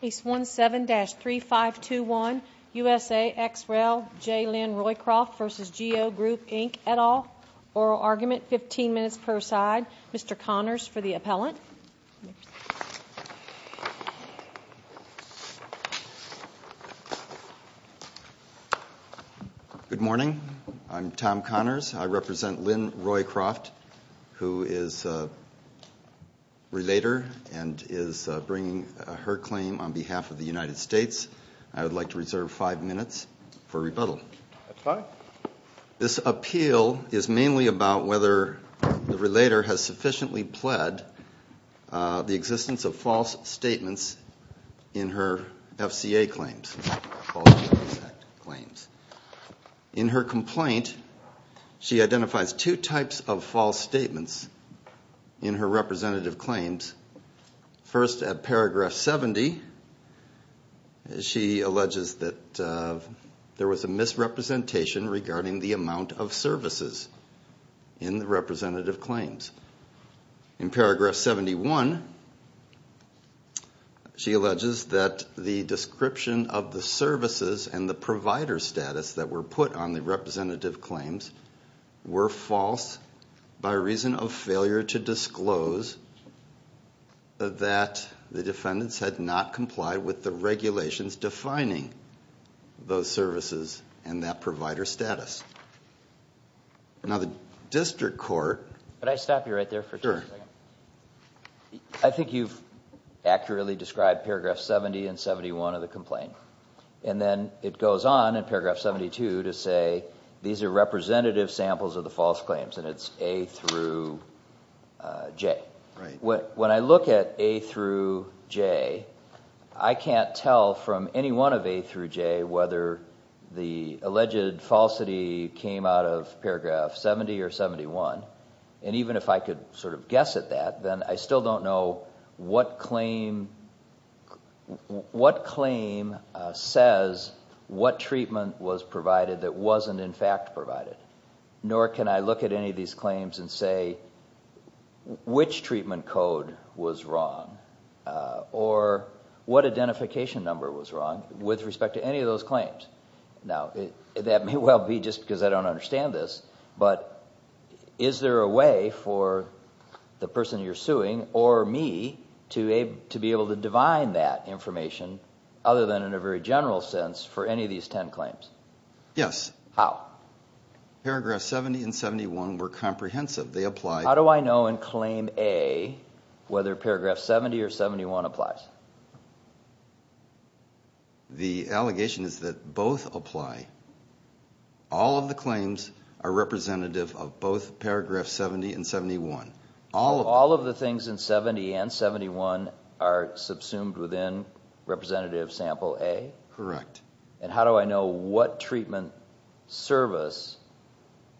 Case 17-3521 USA ex rel J Lynn Roycroft v. Geo Group Inc. et al. Oral argument, 15 minutes per side. Mr. Connors for the appellant. Good morning. I'm Tom Connors. I represent Lynn Roycroft, who is a relator and is bringing her claim on behalf of the United States. I would like to reserve five minutes for rebuttal. This appeal is mainly about whether the relator has sufficiently pled the existence of false statements in her FCA claims. In her complaint, she identifies two types of false statements in her representative claims. First, at paragraph 70, she alleges that there was a misrepresentation regarding the amount of services in the representative claims. In paragraph 71, she alleges that the description of the services and the provider status that were put on the representative claims were false by reason of failure to disclose that the defendants had not complied with the regulations defining those services and that provider status. Now, the district court. Can I stop you right there for a second? I think you've accurately described paragraph 70 and 71 of the complaint. And then it goes on in paragraph 72 to say these are representative samples of the false claims. And it's A through J. When I look at A through J, I can't tell from any one of A through J whether the alleged falsity came out of paragraph 70 or 71. And even if I could sort of guess at that, then I still don't know what claim says what treatment was provided that wasn't, in fact, provided. Nor can I look at any of these claims and say which treatment code was wrong or what identification number was wrong with respect to any of those claims. Now, that may well be just because I don't understand this, but is there a way for the person you're suing or me to be able to divine that information other than in a very general sense for any of these ten claims? Yes. How? Paragraph 70 and 71 were comprehensive. They apply. How do I know in claim A whether paragraph 70 or 71 applies? The allegation is that both apply. All of the claims are representative of both paragraph 70 and 71. All of the things in 70 and 71 are subsumed within representative sample A? Correct. And how do I know what treatment service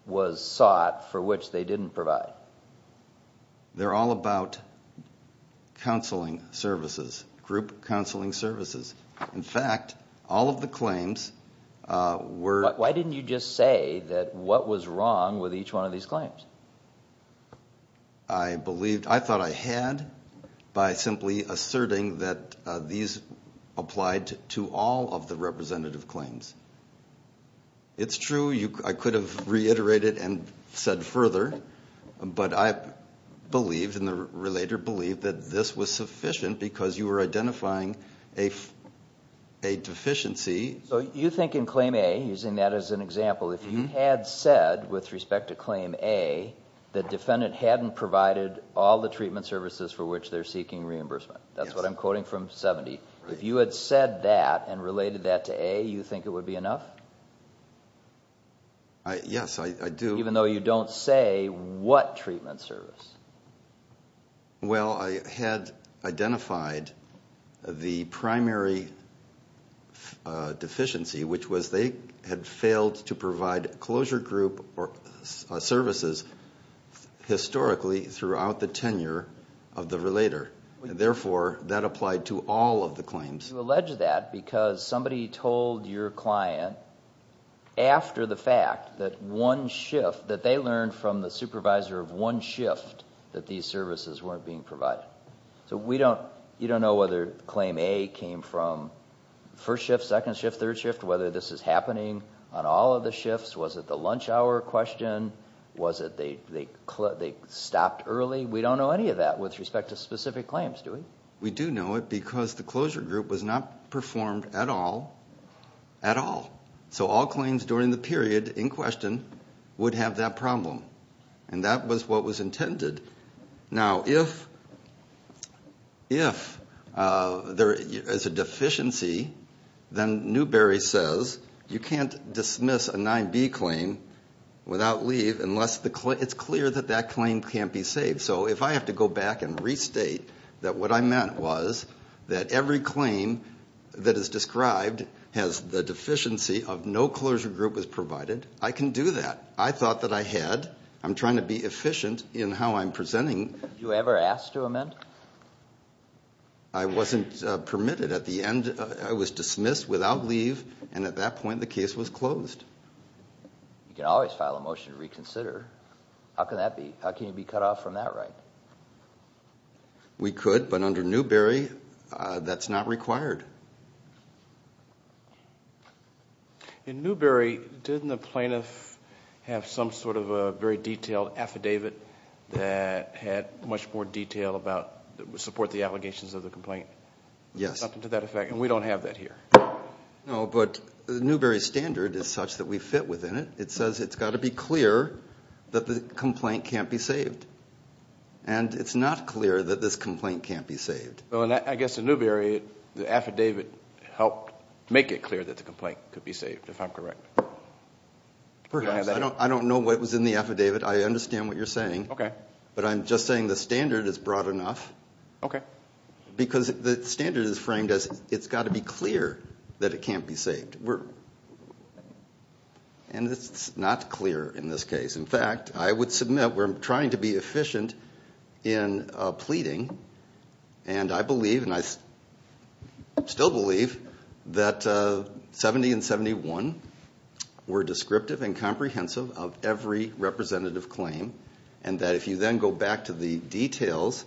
was sought for which they didn't provide? They're all about counseling services, group counseling services. In fact, all of the claims were... Why didn't you just say that what was wrong with each one of these claims? I thought I had by simply asserting that these applied to all of the representative claims. It's true, I could have reiterated and said further, but I believed and the relator believed that this was sufficient because you were identifying a deficiency. So you think in claim A, using that as an example, if you had said with respect to claim A that defendant hadn't provided all the treatment services for which they're seeking reimbursement. That's what I'm quoting from 70. If you had said that and related that to A, you think it would be enough? Yes, I do. Even though you don't say what treatment service? Well, I had identified the primary deficiency, which was they had failed to provide closure group services historically throughout the tenure of the relator. Therefore, that applied to all of the claims. You allege that because somebody told your client after the fact that one shift, that they learned from the supervisor of one shift that these services weren't being provided. So you don't know whether claim A came from first shift, second shift, third shift, whether this is happening on all of the shifts. Was it the lunch hour question? Was it they stopped early? We don't know any of that with respect to specific claims, do we? We do know it because the closure group was not performed at all, at all. So all claims during the period in question would have that problem. And that was what was intended. Now, if there is a deficiency, then Newberry says you can't dismiss a 9B claim without leave unless it's clear that that claim can't be saved. So if I have to go back and restate that what I meant was that every claim that is described has the deficiency of no closure group was provided, I can do that. I thought that I had. I'm trying to be efficient in how I'm presenting. Did you ever ask to amend? I wasn't permitted. At the end, I was dismissed without leave. And at that point, the case was closed. You can always file a motion to reconsider. How can that be? How can you be cut off from that right? We could, but under Newberry, that's not required. In Newberry, didn't the plaintiff have some sort of a very detailed affidavit that had much more detail about support the allegations of the complaint? Yes. Something to that effect, and we don't have that here. No, but Newberry's standard is such that we fit within it. It says it's got to be clear that the complaint can't be saved. And it's not clear that this complaint can't be saved. I guess in Newberry, the affidavit helped make it clear that the complaint could be saved, if I'm correct. I don't know what was in the affidavit. I understand what you're saying. Okay. But I'm just saying the standard is broad enough. Okay. Because the standard is framed as it's got to be clear that it can't be saved, and it's not clear in this case. In fact, I would submit we're trying to be efficient in pleading, and I believe, and I still believe, that 70 and 71 were descriptive and comprehensive of every representative claim, and that if you then go back to the details,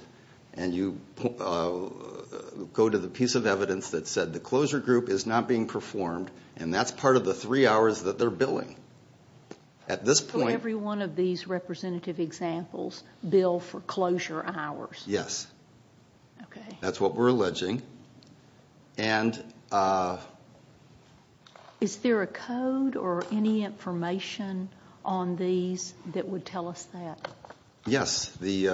and you go to the piece of evidence that said the closure group is not being performed, and that's part of the three hours that they're billing. For every one of these representative examples, bill for closure hours? Yes. Okay. That's what we're alleging. Is there a code or any information on these that would tell us that? Yes. The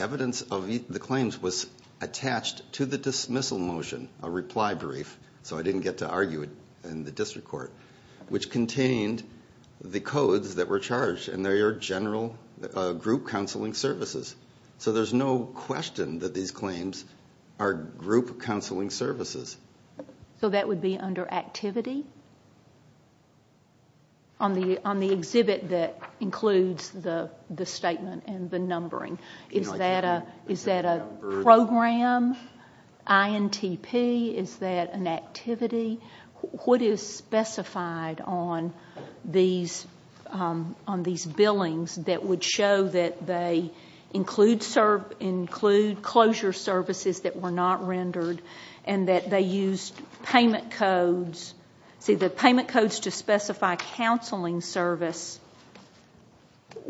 evidence of the claims was attached to the dismissal motion, a reply brief, so I didn't get to argue it in the district court, which contained the codes that were charged, and they are general group counseling services. So there's no question that these claims are group counseling services. So that would be under activity on the exhibit that includes the statement and the numbering? Is that a program, INTP? Is that an activity? What is specified on these billings that would show that they include closure services that were not rendered, and that they used payment codes to specify counseling service,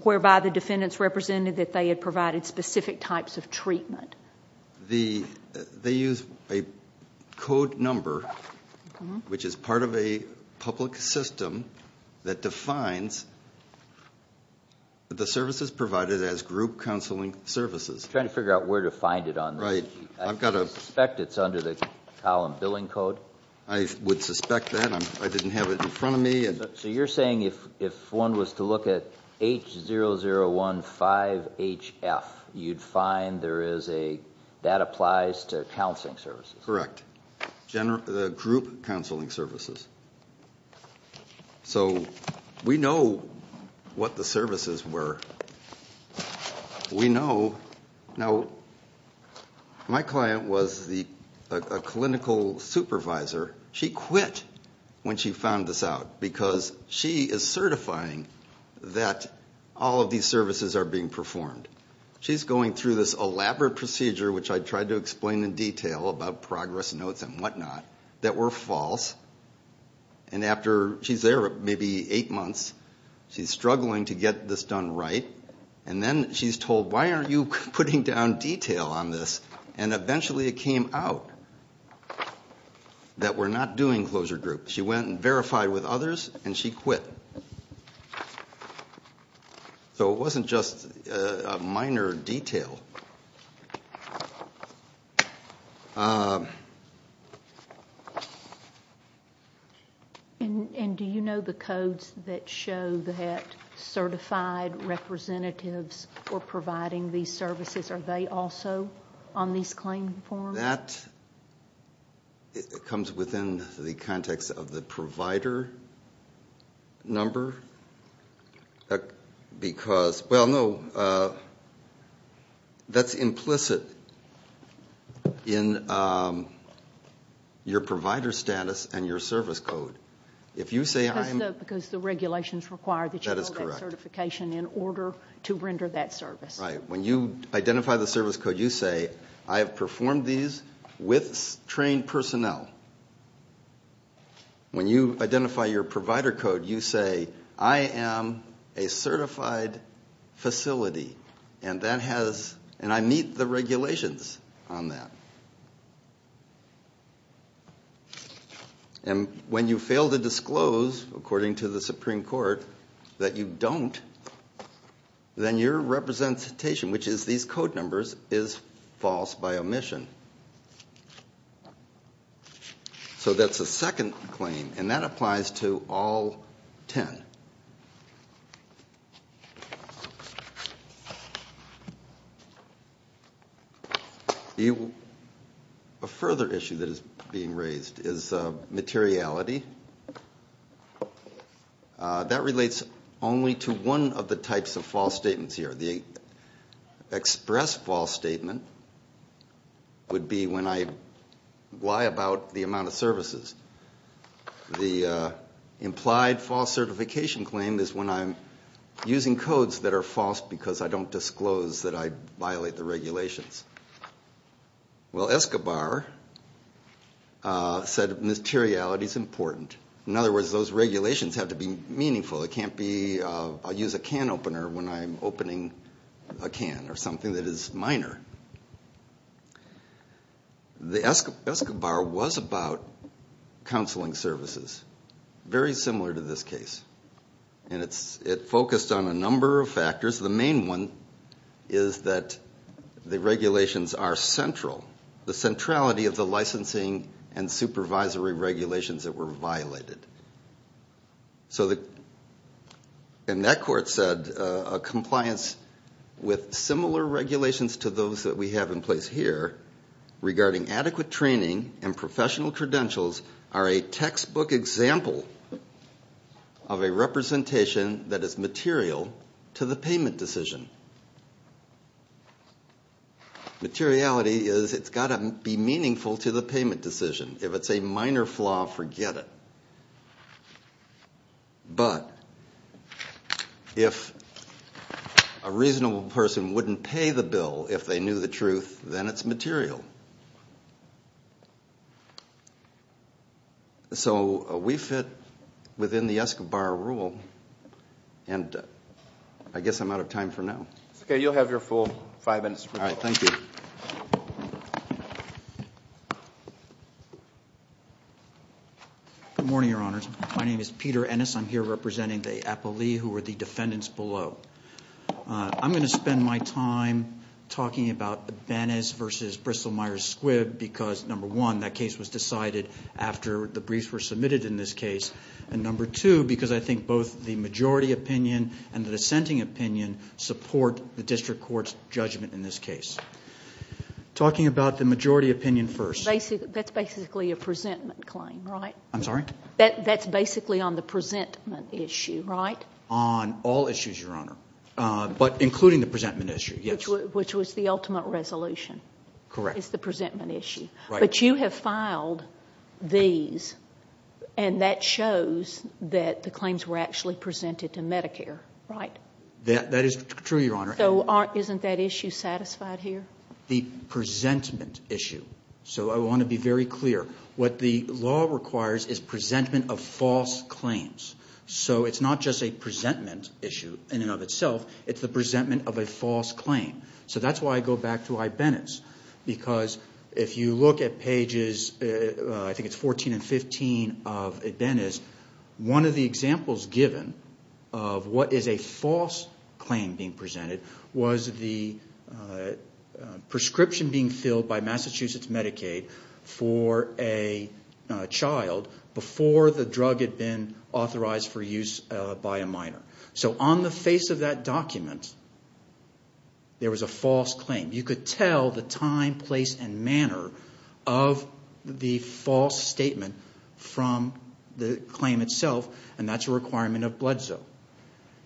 whereby the defendants represented that they had provided specific types of treatment? They use a code number, which is part of a public system that defines the services provided as group counseling services. I'm trying to figure out where to find it on the sheet. I suspect it's under the column billing code. I would suspect that. I didn't have it in front of me. So you're saying if one was to look at H0015HF, you'd find that applies to counseling services? Correct. The group counseling services. So we know what the services were. We know. Now, my client was a clinical supervisor. She quit when she found this out because she is certifying that all of these services are being performed. She's going through this elaborate procedure, which I tried to explain in detail about progress notes and whatnot, that were false. And after she's there maybe eight months, she's struggling to get this done right. And then she's told, why aren't you putting down detail on this? And eventually it came out that we're not doing closure group. She went and verified with others, and she quit. So it wasn't just a minor detail. And do you know the codes that show that certified representatives were providing these services? Are they also on these claim forms? That comes within the context of the provider number. Because, well, no, that's implicit in your provider status and your service code. Because the regulations require that you hold that certification in order to render that service. Right. When you identify the service code, you say, I have performed these with trained personnel. When you identify your provider code, you say, I am a certified facility, and I meet the regulations on that. And when you fail to disclose, according to the Supreme Court, that you don't, then your representation, which is these code numbers, is false by omission. So that's a second claim, and that applies to all ten. A further issue that is being raised is materiality. That relates only to one of the types of false statements here. The express false statement would be when I lie about the amount of services. The implied false certification claim is when I'm using codes that are false because I don't disclose that I violate the regulations. Well, Escobar said materiality is important. In other words, those regulations have to be meaningful. It can't be, I'll use a can opener when I'm opening a can or something that is minor. Escobar was about counseling services. Very similar to this case. And it focused on a number of factors. The main one is that the regulations are central. The centrality of the licensing and supervisory regulations that were violated. So, and that court said a compliance with similar regulations to those that we have in place here, regarding adequate training and professional credentials, are a textbook example of a representation that is material to the payment decision. Materiality is, it's got to be meaningful to the payment decision. If it's a minor flaw, forget it. But if a reasonable person wouldn't pay the bill if they knew the truth, then it's material. So we fit within the Escobar rule. And I guess I'm out of time for now. Okay, you'll have your full five minutes. All right, thank you. Good morning, Your Honors. My name is Peter Ennis. I'm here representing the appellee who are the defendants below. I'm going to spend my time talking about the Benes versus Bristol-Myers-Squibb because, number one, that case was decided after the briefs were submitted in this case. And, number two, because I think both the majority opinion and the dissenting opinion support the district court's judgment in this case. Talking about the majority opinion first. That's basically a presentment claim, right? I'm sorry? That's basically on the presentment issue, right? On all issues, Your Honor, but including the presentment issue, yes. Which was the ultimate resolution. Correct. It's the presentment issue. Right. But you have filed these, and that shows that the claims were actually presented to Medicare, right? That is true, Your Honor. So isn't that issue satisfied here? The presentment issue. So I want to be very clear. What the law requires is presentment of false claims. So it's not just a presentment issue in and of itself. It's the presentment of a false claim. So that's why I go back to Ibenez. Because if you look at pages, I think it's 14 and 15 of Ibenez, one of the examples given of what is a false claim being presented was the prescription being filled by Massachusetts Medicaid for a child before the drug had been authorized for use by a minor. So on the face of that document, there was a false claim. You could tell the time, place, and manner of the false statement from the claim itself. And that's a requirement of blood zone.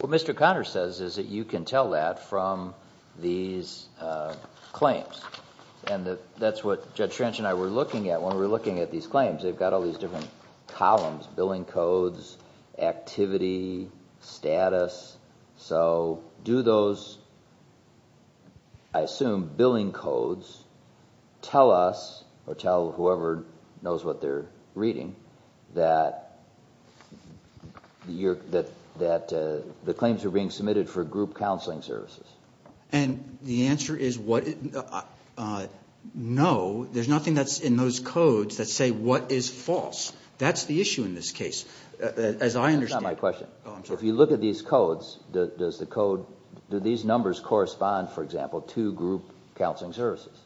What Mr. Conner says is that you can tell that from these claims. And that's what Judge Trench and I were looking at when we were looking at these claims. They've got all these different columns, billing codes, activity, status. So do those, I assume, billing codes tell us or tell whoever knows what they're reading that the claims are being submitted for group counseling services? And the answer is no. There's nothing that's in those codes that say what is false. That's the issue in this case. That's not my question. If you look at these codes, do these numbers correspond, for example, to group counseling services?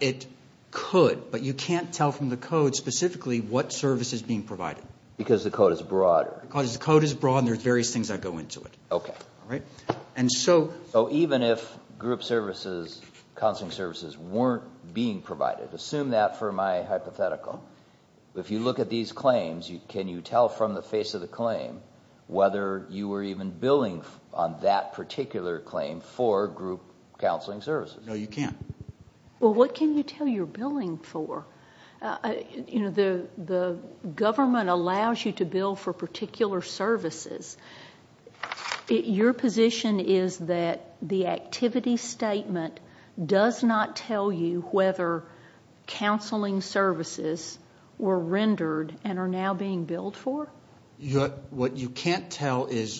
It could, but you can't tell from the code specifically what service is being provided. Because the code is broader. Because the code is broad and there are various things that go into it. So even if group services, counseling services, weren't being provided, assume that for my hypothetical, if you look at these claims, can you tell from the face of the claim whether you were even billing on that particular claim for group counseling services? No, you can't. Well, what can you tell you're billing for? The government allows you to bill for particular services. Your position is that the activity statement does not tell you whether counseling services were rendered and are now being billed for? What you can't tell is,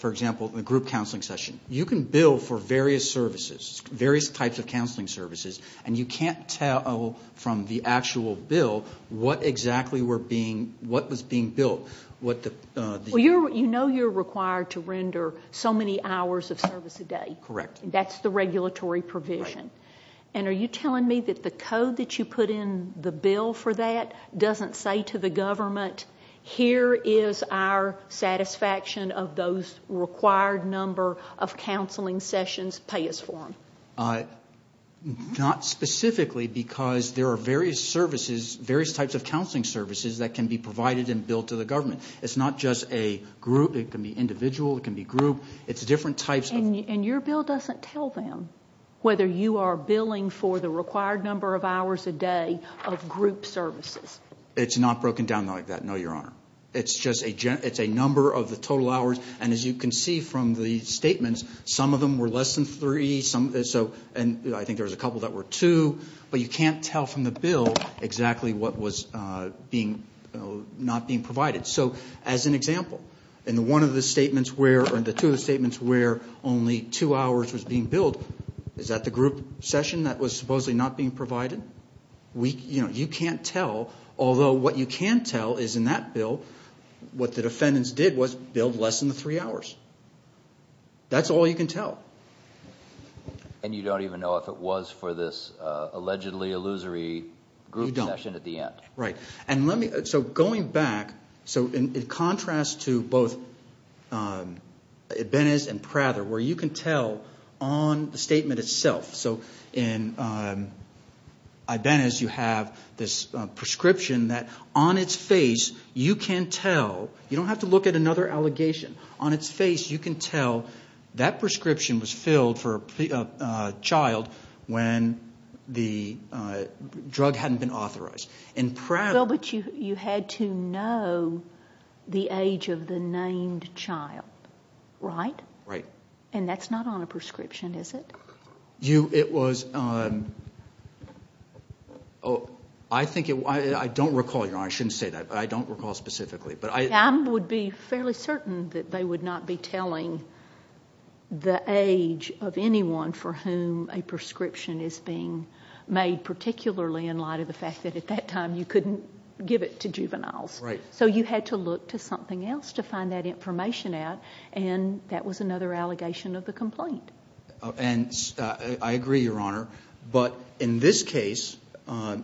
for example, the group counseling session. You can bill for various services, various types of counseling services, and you can't tell from the actual bill what exactly was being billed. Well, you know you're required to render so many hours of service a day. Correct. That's the regulatory provision. And are you telling me that the code that you put in the bill for that doesn't say to the government, here is our satisfaction of those required number of counseling sessions, pay us for them? Not specifically because there are various types of counseling services that can be provided and billed to the government. It's not just a group. It can be individual. It can be group. It's different types. And your bill doesn't tell them whether you are billing for the required number of hours a day of group services? It's not broken down like that, no, Your Honor. It's just a number of the total hours. And as you can see from the statements, some of them were less than three. And I think there was a couple that were two. But you can't tell from the bill exactly what was not being provided. So as an example, in the one of the statements where or the two of the statements where only two hours was being billed, is that the group session that was supposedly not being provided? You can't tell. Although what you can tell is in that bill, what the defendants did was billed less than the three hours. That's all you can tell. And you don't even know if it was for this allegedly illusory group session at the end? You don't. Right. So going back, so in contrast to both Ibenez and Prather, where you can tell on the statement itself. So in Ibenez you have this prescription that on its face you can tell. You don't have to look at another allegation. On its face you can tell that prescription was filled for a child when the drug hadn't been authorized. Well, but you had to know the age of the named child, right? Right. And that's not on a prescription, is it? It was – I don't recall, Your Honor, I shouldn't say that, but I don't recall specifically. I would be fairly certain that they would not be telling the age of anyone for whom a prescription is being made, particularly in light of the fact that at that time you couldn't give it to juveniles. So you had to look to something else to find that information out, and that was another allegation of the complaint. And I agree, Your Honor, but in this case –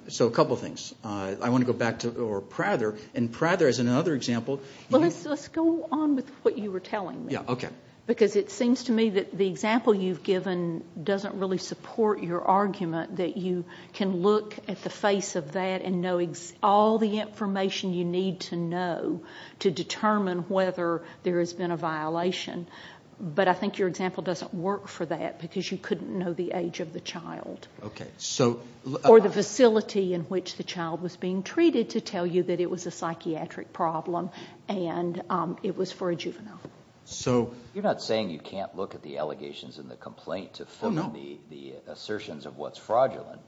so a couple things. I want to go back to Prather, and Prather is another example. Well, let's go on with what you were telling me. Yeah, okay. Because it seems to me that the example you've given doesn't really support your argument that you can look at the face of that and know all the information you need to know to determine whether there has been a violation. But I think your example doesn't work for that because you couldn't know the age of the child. Okay, so – Or the facility in which the child was being treated to tell you that it was a psychiatric problem and it was for a juvenile. So – You're not saying you can't look at the allegations in the complaint to form the assertions of what's fraudulent.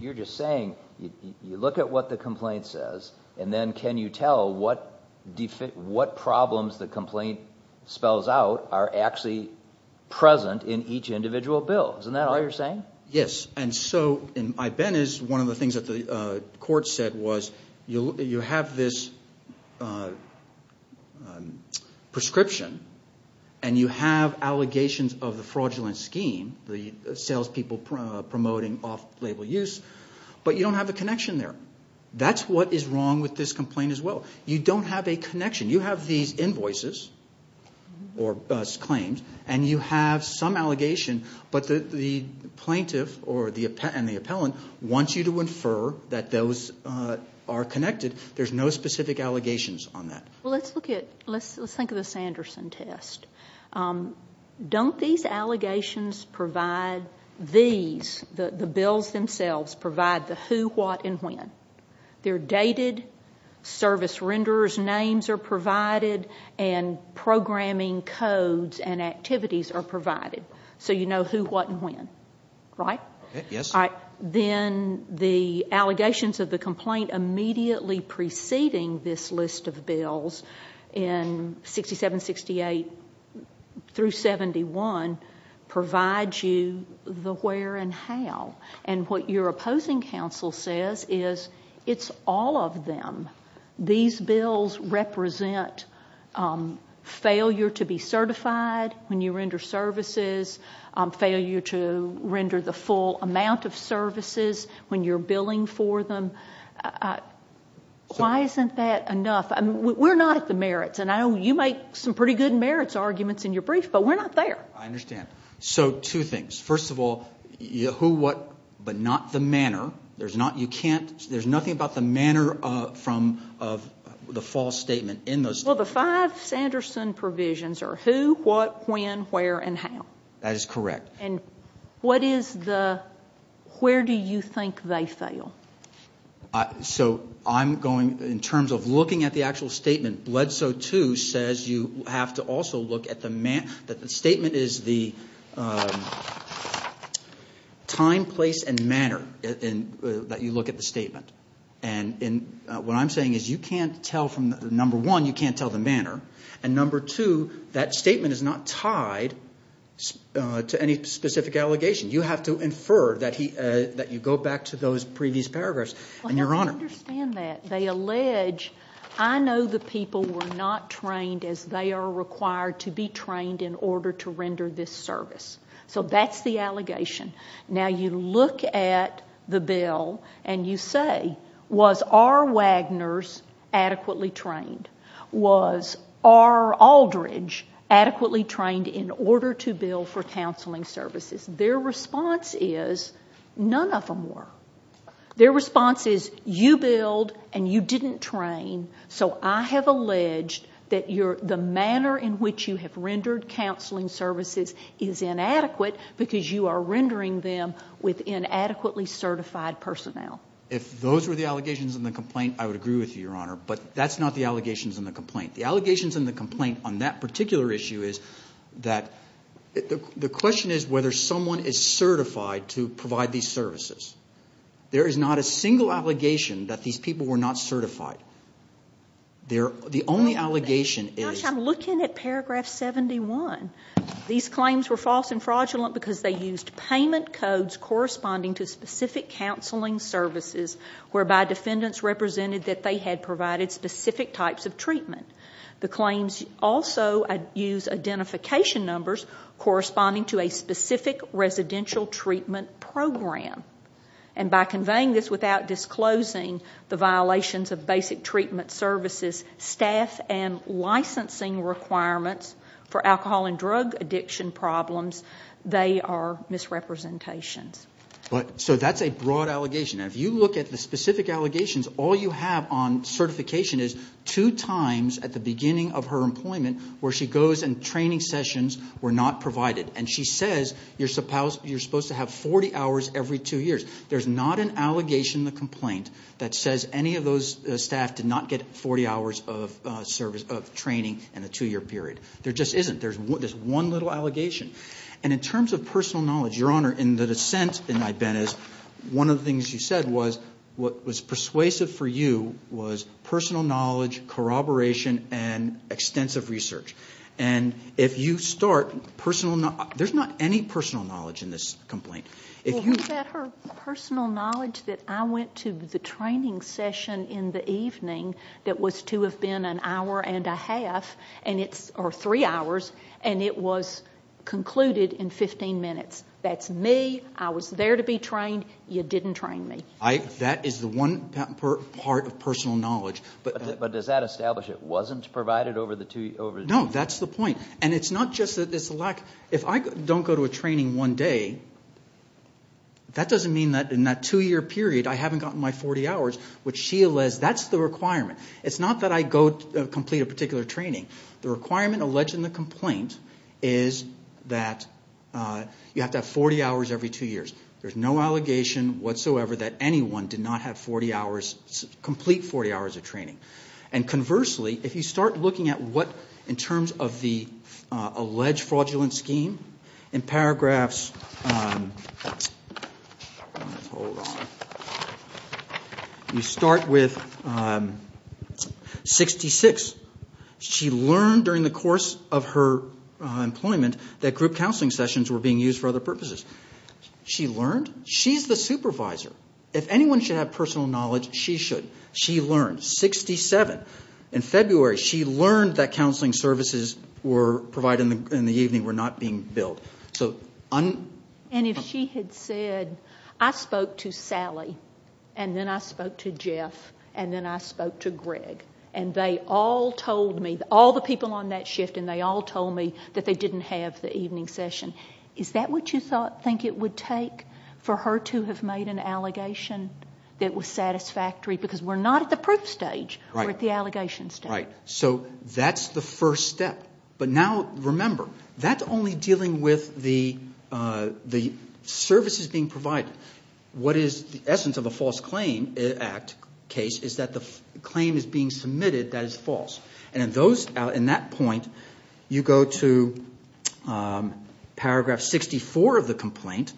You're just saying you look at what the complaint says, and then can you tell what problems the complaint spells out are actually present in each individual bill. Isn't that all you're saying? Yes. And so I've been – one of the things that the court said was you have this prescription and you have allegations of the fraudulent scheme, the salespeople promoting off-label use, but you don't have the connection there. That's what is wrong with this complaint as well. You don't have a connection. You have these invoices or claims, and you have some allegation, but the plaintiff and the appellant want you to infer that those are connected. There's no specific allegations on that. Well, let's look at – let's think of the Sanderson test. Don't these allegations provide these, the bills themselves, provide the who, what, and when? They're dated, service renderers' names are provided, and programming codes and activities are provided. So you know who, what, and when, right? Yes. All right. Then the allegations of the complaint immediately preceding this list of bills in 67, 68 through 71 provide you the where and how. And what your opposing counsel says is it's all of them. These bills represent failure to be certified when you render services, failure to render the full amount of services when you're billing for them. Why isn't that enough? We're not at the merits, and I know you make some pretty good merits arguments in your brief, but we're not there. I understand. So two things. First of all, who, what, but not the manner. There's nothing about the manner of the false statement in those statements. Well, the five Sanderson provisions are who, what, when, where, and how. That is correct. And what is the, where do you think they fail? So I'm going, in terms of looking at the actual statement, Bledsoe 2 says you have to also look at the, that the statement is the time, place, and manner that you look at the statement. And what I'm saying is you can't tell from, number one, you can't tell the manner, and number two, that statement is not tied to any specific allegation. You have to infer that you go back to those previous paragraphs. And, Your Honor. I understand that. They allege, I know the people were not trained as they are required to be trained in order to render this service. So that's the allegation. Now, you look at the bill and you say, was R. Wagners adequately trained? Was R. Aldridge adequately trained in order to bill for counseling services? Their response is none of them were. Their response is you billed and you didn't train, so I have alleged that the manner in which you have rendered counseling services is inadequate because you are rendering them with inadequately certified personnel. If those were the allegations in the complaint, I would agree with you, Your Honor. But that's not the allegations in the complaint. The allegations in the complaint on that particular issue is that, the question is whether someone is certified to provide these services. There is not a single allegation that these people were not certified. The only allegation is. Gosh, I'm looking at paragraph 71. These claims were false and fraudulent because they used payment codes corresponding to specific counseling services whereby defendants represented that they had provided specific types of treatment. The claims also use identification numbers corresponding to a specific residential treatment program. And by conveying this without disclosing the violations of basic treatment services, staff, and licensing requirements for alcohol and drug addiction problems, they are misrepresentations. So that's a broad allegation. If you look at the specific allegations, all you have on certification is two times at the beginning of her employment where she goes and training sessions were not provided. And she says you're supposed to have 40 hours every two years. There's not an allegation in the complaint that says any of those staff did not get 40 hours of training in a two-year period. There just isn't. There's one little allegation. And in terms of personal knowledge, Your Honor, in the dissent in Ibenez, one of the things you said was what was persuasive for you was personal knowledge, corroboration, and extensive research. And if you start personal knowledge, there's not any personal knowledge in this complaint. Well, what about her personal knowledge that I went to the training session in the evening that was to have been an hour and a half or three hours, and it was concluded in 15 minutes. That's me. I was there to be trained. You didn't train me. That is the one part of personal knowledge. But does that establish it wasn't provided over the two years? No, that's the point. And it's not just that it's a lack. If I don't go to a training one day, that doesn't mean that in that two-year period I haven't gotten my 40 hours, which she alleges that's the requirement. It's not that I go complete a particular training. The requirement alleged in the complaint is that you have to have 40 hours every two years. There's no allegation whatsoever that anyone did not have 40 hours, complete 40 hours of training. And conversely, if you start looking at what, in terms of the alleged fraudulent scheme, in paragraphs, you start with 66. She learned during the course of her employment that group counseling sessions were being used for other purposes. She learned. She's the supervisor. If anyone should have personal knowledge, she should. She learned. 67. In February, she learned that counseling services provided in the evening were not being billed. And if she had said, I spoke to Sally, and then I spoke to Jeff, and then I spoke to Greg, and they all told me, all the people on that shift, and they all told me that they didn't have the evening session, is that what you think it would take for her to have made an allegation that was satisfactory? Because we're not at the proof stage. Right. We're at the allegation stage. Right. So that's the first step. But now, remember, that's only dealing with the services being provided. What is the essence of a false claim act case is that the claim is being submitted that is false. And in that point, you go to paragraph 64 of the complaint,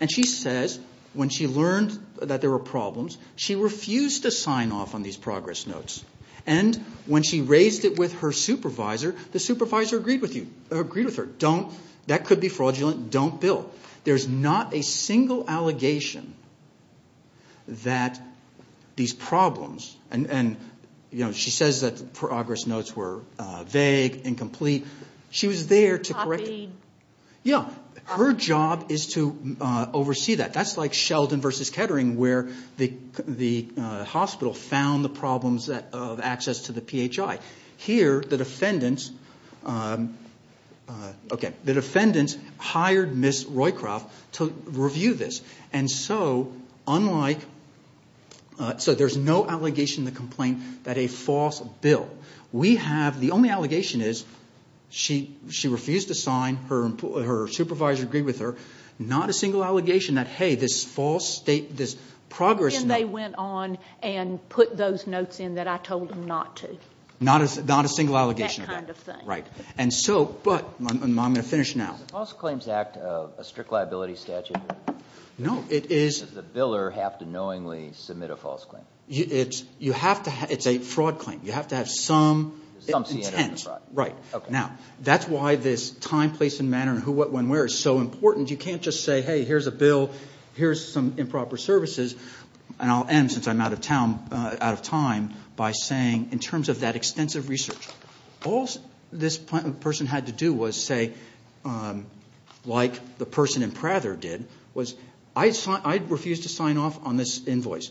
and she says when she learned that there were problems, she refused to sign off on these progress notes. And when she raised it with her supervisor, the supervisor agreed with her. Don't. That could be fraudulent. Don't bill. There's not a single allegation that these problems, and she says that the progress notes were vague, incomplete. She was there to correct it. Copy. Yeah. Now, her job is to oversee that. That's like Sheldon v. Kettering where the hospital found the problems of access to the PHI. Here, the defendants hired Ms. Roycroft to review this. And so there's no allegation in the complaint that a false bill. We have, the only allegation is she refused to sign. Her supervisor agreed with her. Not a single allegation that, hey, this false state, this progress note. And they went on and put those notes in that I told them not to. Not a single allegation of that. That kind of thing. Right. And so, but, I'm going to finish now. Is the False Claims Act a strict liability statute? No, it is. Does the biller have to knowingly submit a false claim? It's a fraud claim. You have to have some intent. Right. Now, that's why this time, place, and manner and who, what, when, where is so important. You can't just say, hey, here's a bill. Here's some improper services. And I'll end, since I'm out of time, by saying, in terms of that extensive research, all this person had to do was say, like the person in Prather did, was I refused to sign off on this invoice.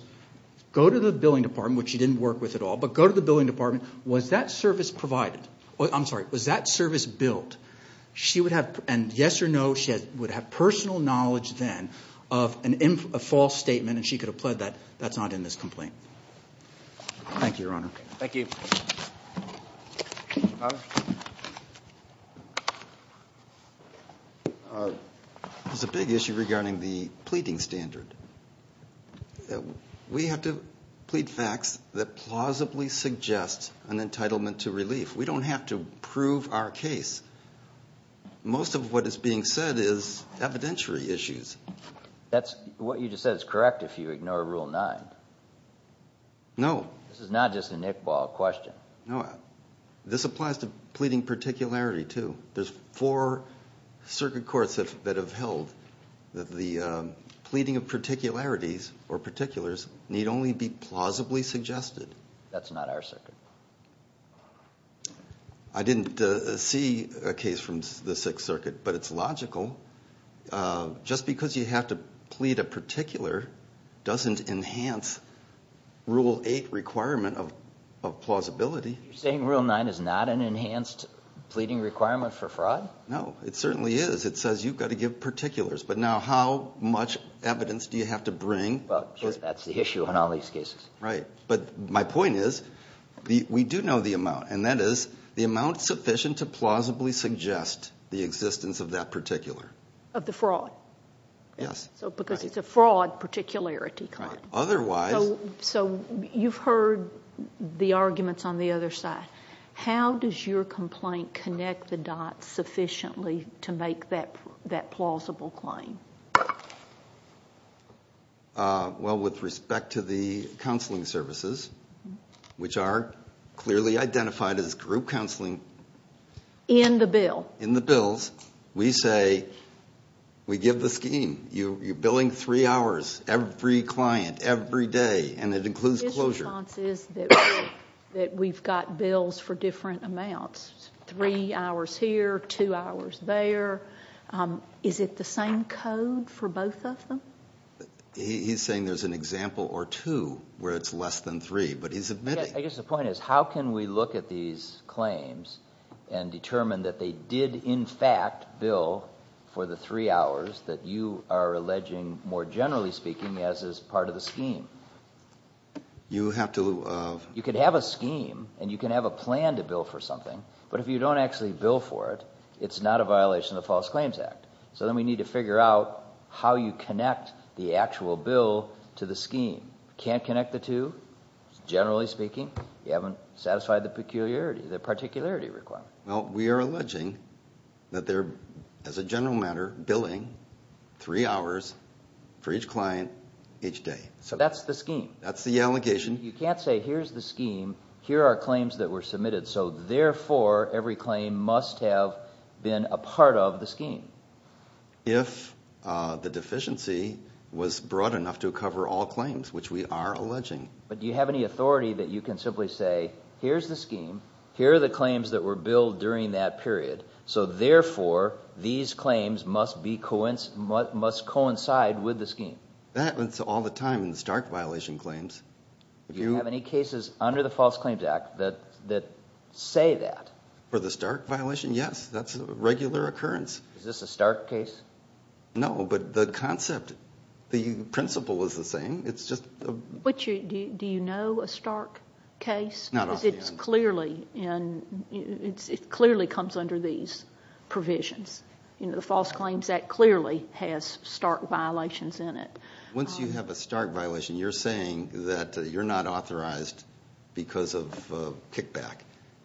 Go to the billing department, which she didn't work with at all, but go to the billing department. Was that service provided? I'm sorry. Was that service billed? She would have, and yes or no, she would have personal knowledge then of a false statement, and she could have pled that that's not in this complaint. Thank you, Your Honor. Thank you. Your Honor. There's a big issue regarding the pleading standard. We have to plead facts that plausibly suggest an entitlement to relief. We don't have to prove our case. Most of what is being said is evidentiary issues. That's what you just said is correct if you ignore Rule 9. No. This is not just an Iqbal question. No. This applies to pleading particularity, too. There's four circuit courts that have held that the pleading of particularities or particulars need only be plausibly suggested. That's not our circuit. I didn't see a case from the Sixth Circuit, but it's logical. Just because you have to plead a particular doesn't enhance Rule 8 requirement of plausibility. You're saying Rule 9 is not an enhanced pleading requirement for fraud? No, it certainly is. It says you've got to give particulars. But now how much evidence do you have to bring? Well, that's the issue in all these cases. Right. But my point is we do know the amount, and that is the amount sufficient to plausibly suggest the existence of that particular. Of the fraud? Yes. Because it's a fraud particularity claim. Right. Otherwise— So you've heard the arguments on the other side. How does your complaint connect the dots sufficiently to make that plausible claim? Well, with respect to the counseling services, which are clearly identified as group counseling— In the bill. In the bills. We say we give the scheme. You're billing three hours, every client, every day, and it includes closure. My response is that we've got bills for different amounts, three hours here, two hours there. Is it the same code for both of them? He's saying there's an example or two where it's less than three, but he's admitting— I guess the point is how can we look at these claims and determine that they did, in fact, bill for the three hours that you are alleging, more generally speaking, as is part of the scheme? You have to— You can have a scheme, and you can have a plan to bill for something, but if you don't actually bill for it, it's not a violation of the False Claims Act. So then we need to figure out how you connect the actual bill to the scheme. Can't connect the two, generally speaking. You haven't satisfied the peculiarity, the particularity requirement. Well, we are alleging that they're, as a general matter, billing three hours for each client, each day. So that's the scheme. That's the allegation. You can't say here's the scheme, here are claims that were submitted, so therefore every claim must have been a part of the scheme. If the deficiency was broad enough to cover all claims, which we are alleging. But do you have any authority that you can simply say here's the scheme, here are the claims that were billed during that period, so therefore these claims must coincide with the scheme? That's all the time in the stark violation claims. Do you have any cases under the False Claims Act that say that? For the stark violation, yes. That's a regular occurrence. Is this a stark case? No, but the concept, the principle is the same. Do you know a stark case? Not off the end. It clearly comes under these provisions. The False Claims Act clearly has stark violations in it. Once you have a stark violation, you're saying that you're not authorized because of kickback.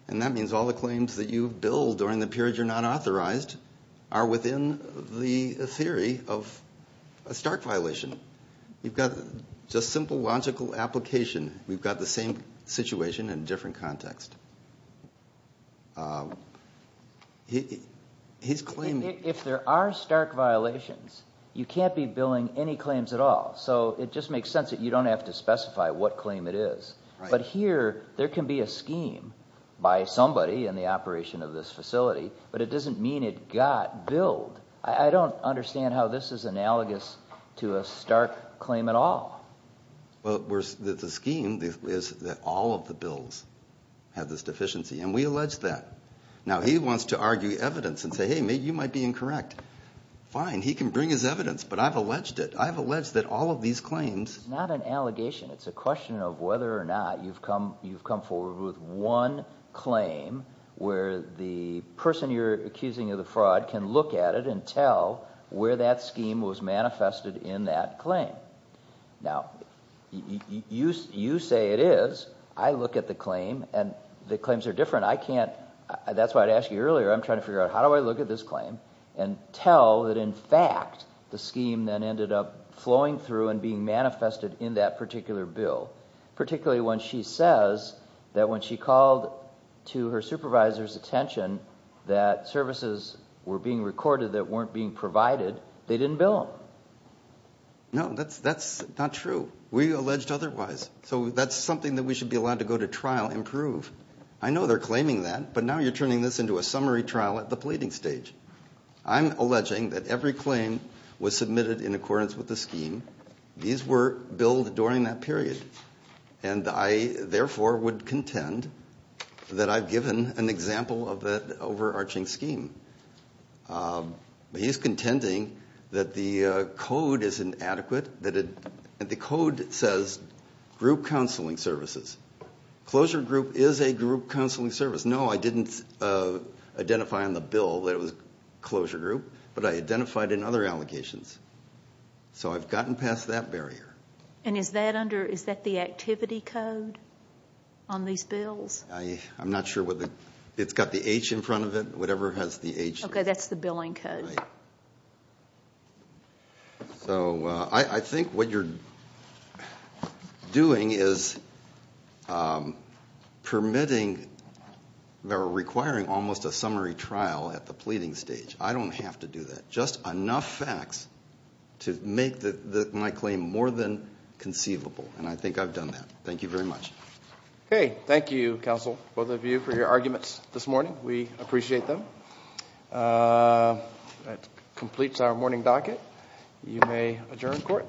And that means all the claims that you've billed during the period you're not authorized are within the theory of a stark violation. You've got just simple logical application. We've got the same situation in a different context. If there are stark violations, you can't be billing any claims at all. So it just makes sense that you don't have to specify what claim it is. But here, there can be a scheme by somebody in the operation of this facility, but it doesn't mean it got billed. I don't understand how this is analogous to a stark claim at all. Well, the scheme is that all of the bills have this deficiency, and we allege that. Now, he wants to argue evidence and say, hey, you might be incorrect. Fine, he can bring his evidence, but I've alleged it. I've alleged that all of these claims— It's not an allegation. It's a question of whether or not you've come forward with one claim where the person you're accusing of the fraud can look at it and tell where that scheme was manifested in that claim. Now, you say it is. I look at the claim, and the claims are different. I can't—that's why I asked you earlier. I'm trying to figure out how do I look at this claim and tell that, in fact, the scheme then ended up flowing through and being manifested in that particular bill, particularly when she says that when she called to her supervisor's attention that services were being recorded that weren't being provided, they didn't bill them. No, that's not true. We alleged otherwise. So that's something that we should be allowed to go to trial and prove. I know they're claiming that, but now you're turning this into a summary trial at the pleading stage. I'm alleging that every claim was submitted in accordance with the scheme. These were billed during that period. And I, therefore, would contend that I've given an example of that overarching scheme. He's contending that the code is inadequate, that the code says group counseling services. Closure group is a group counseling service. No, I didn't identify on the bill that it was closure group, but I identified in other allegations. So I've gotten past that barrier. And is that under—is that the activity code on these bills? I'm not sure what the—it's got the H in front of it, whatever has the H. Okay, that's the billing code. So I think what you're doing is permitting or requiring almost a summary trial at the pleading stage. I don't have to do that. Just enough facts to make my claim more than conceivable. And I think I've done that. Thank you very much. Okay, thank you, counsel, both of you, for your arguments this morning. We appreciate them. That completes our morning docket. You may adjourn court.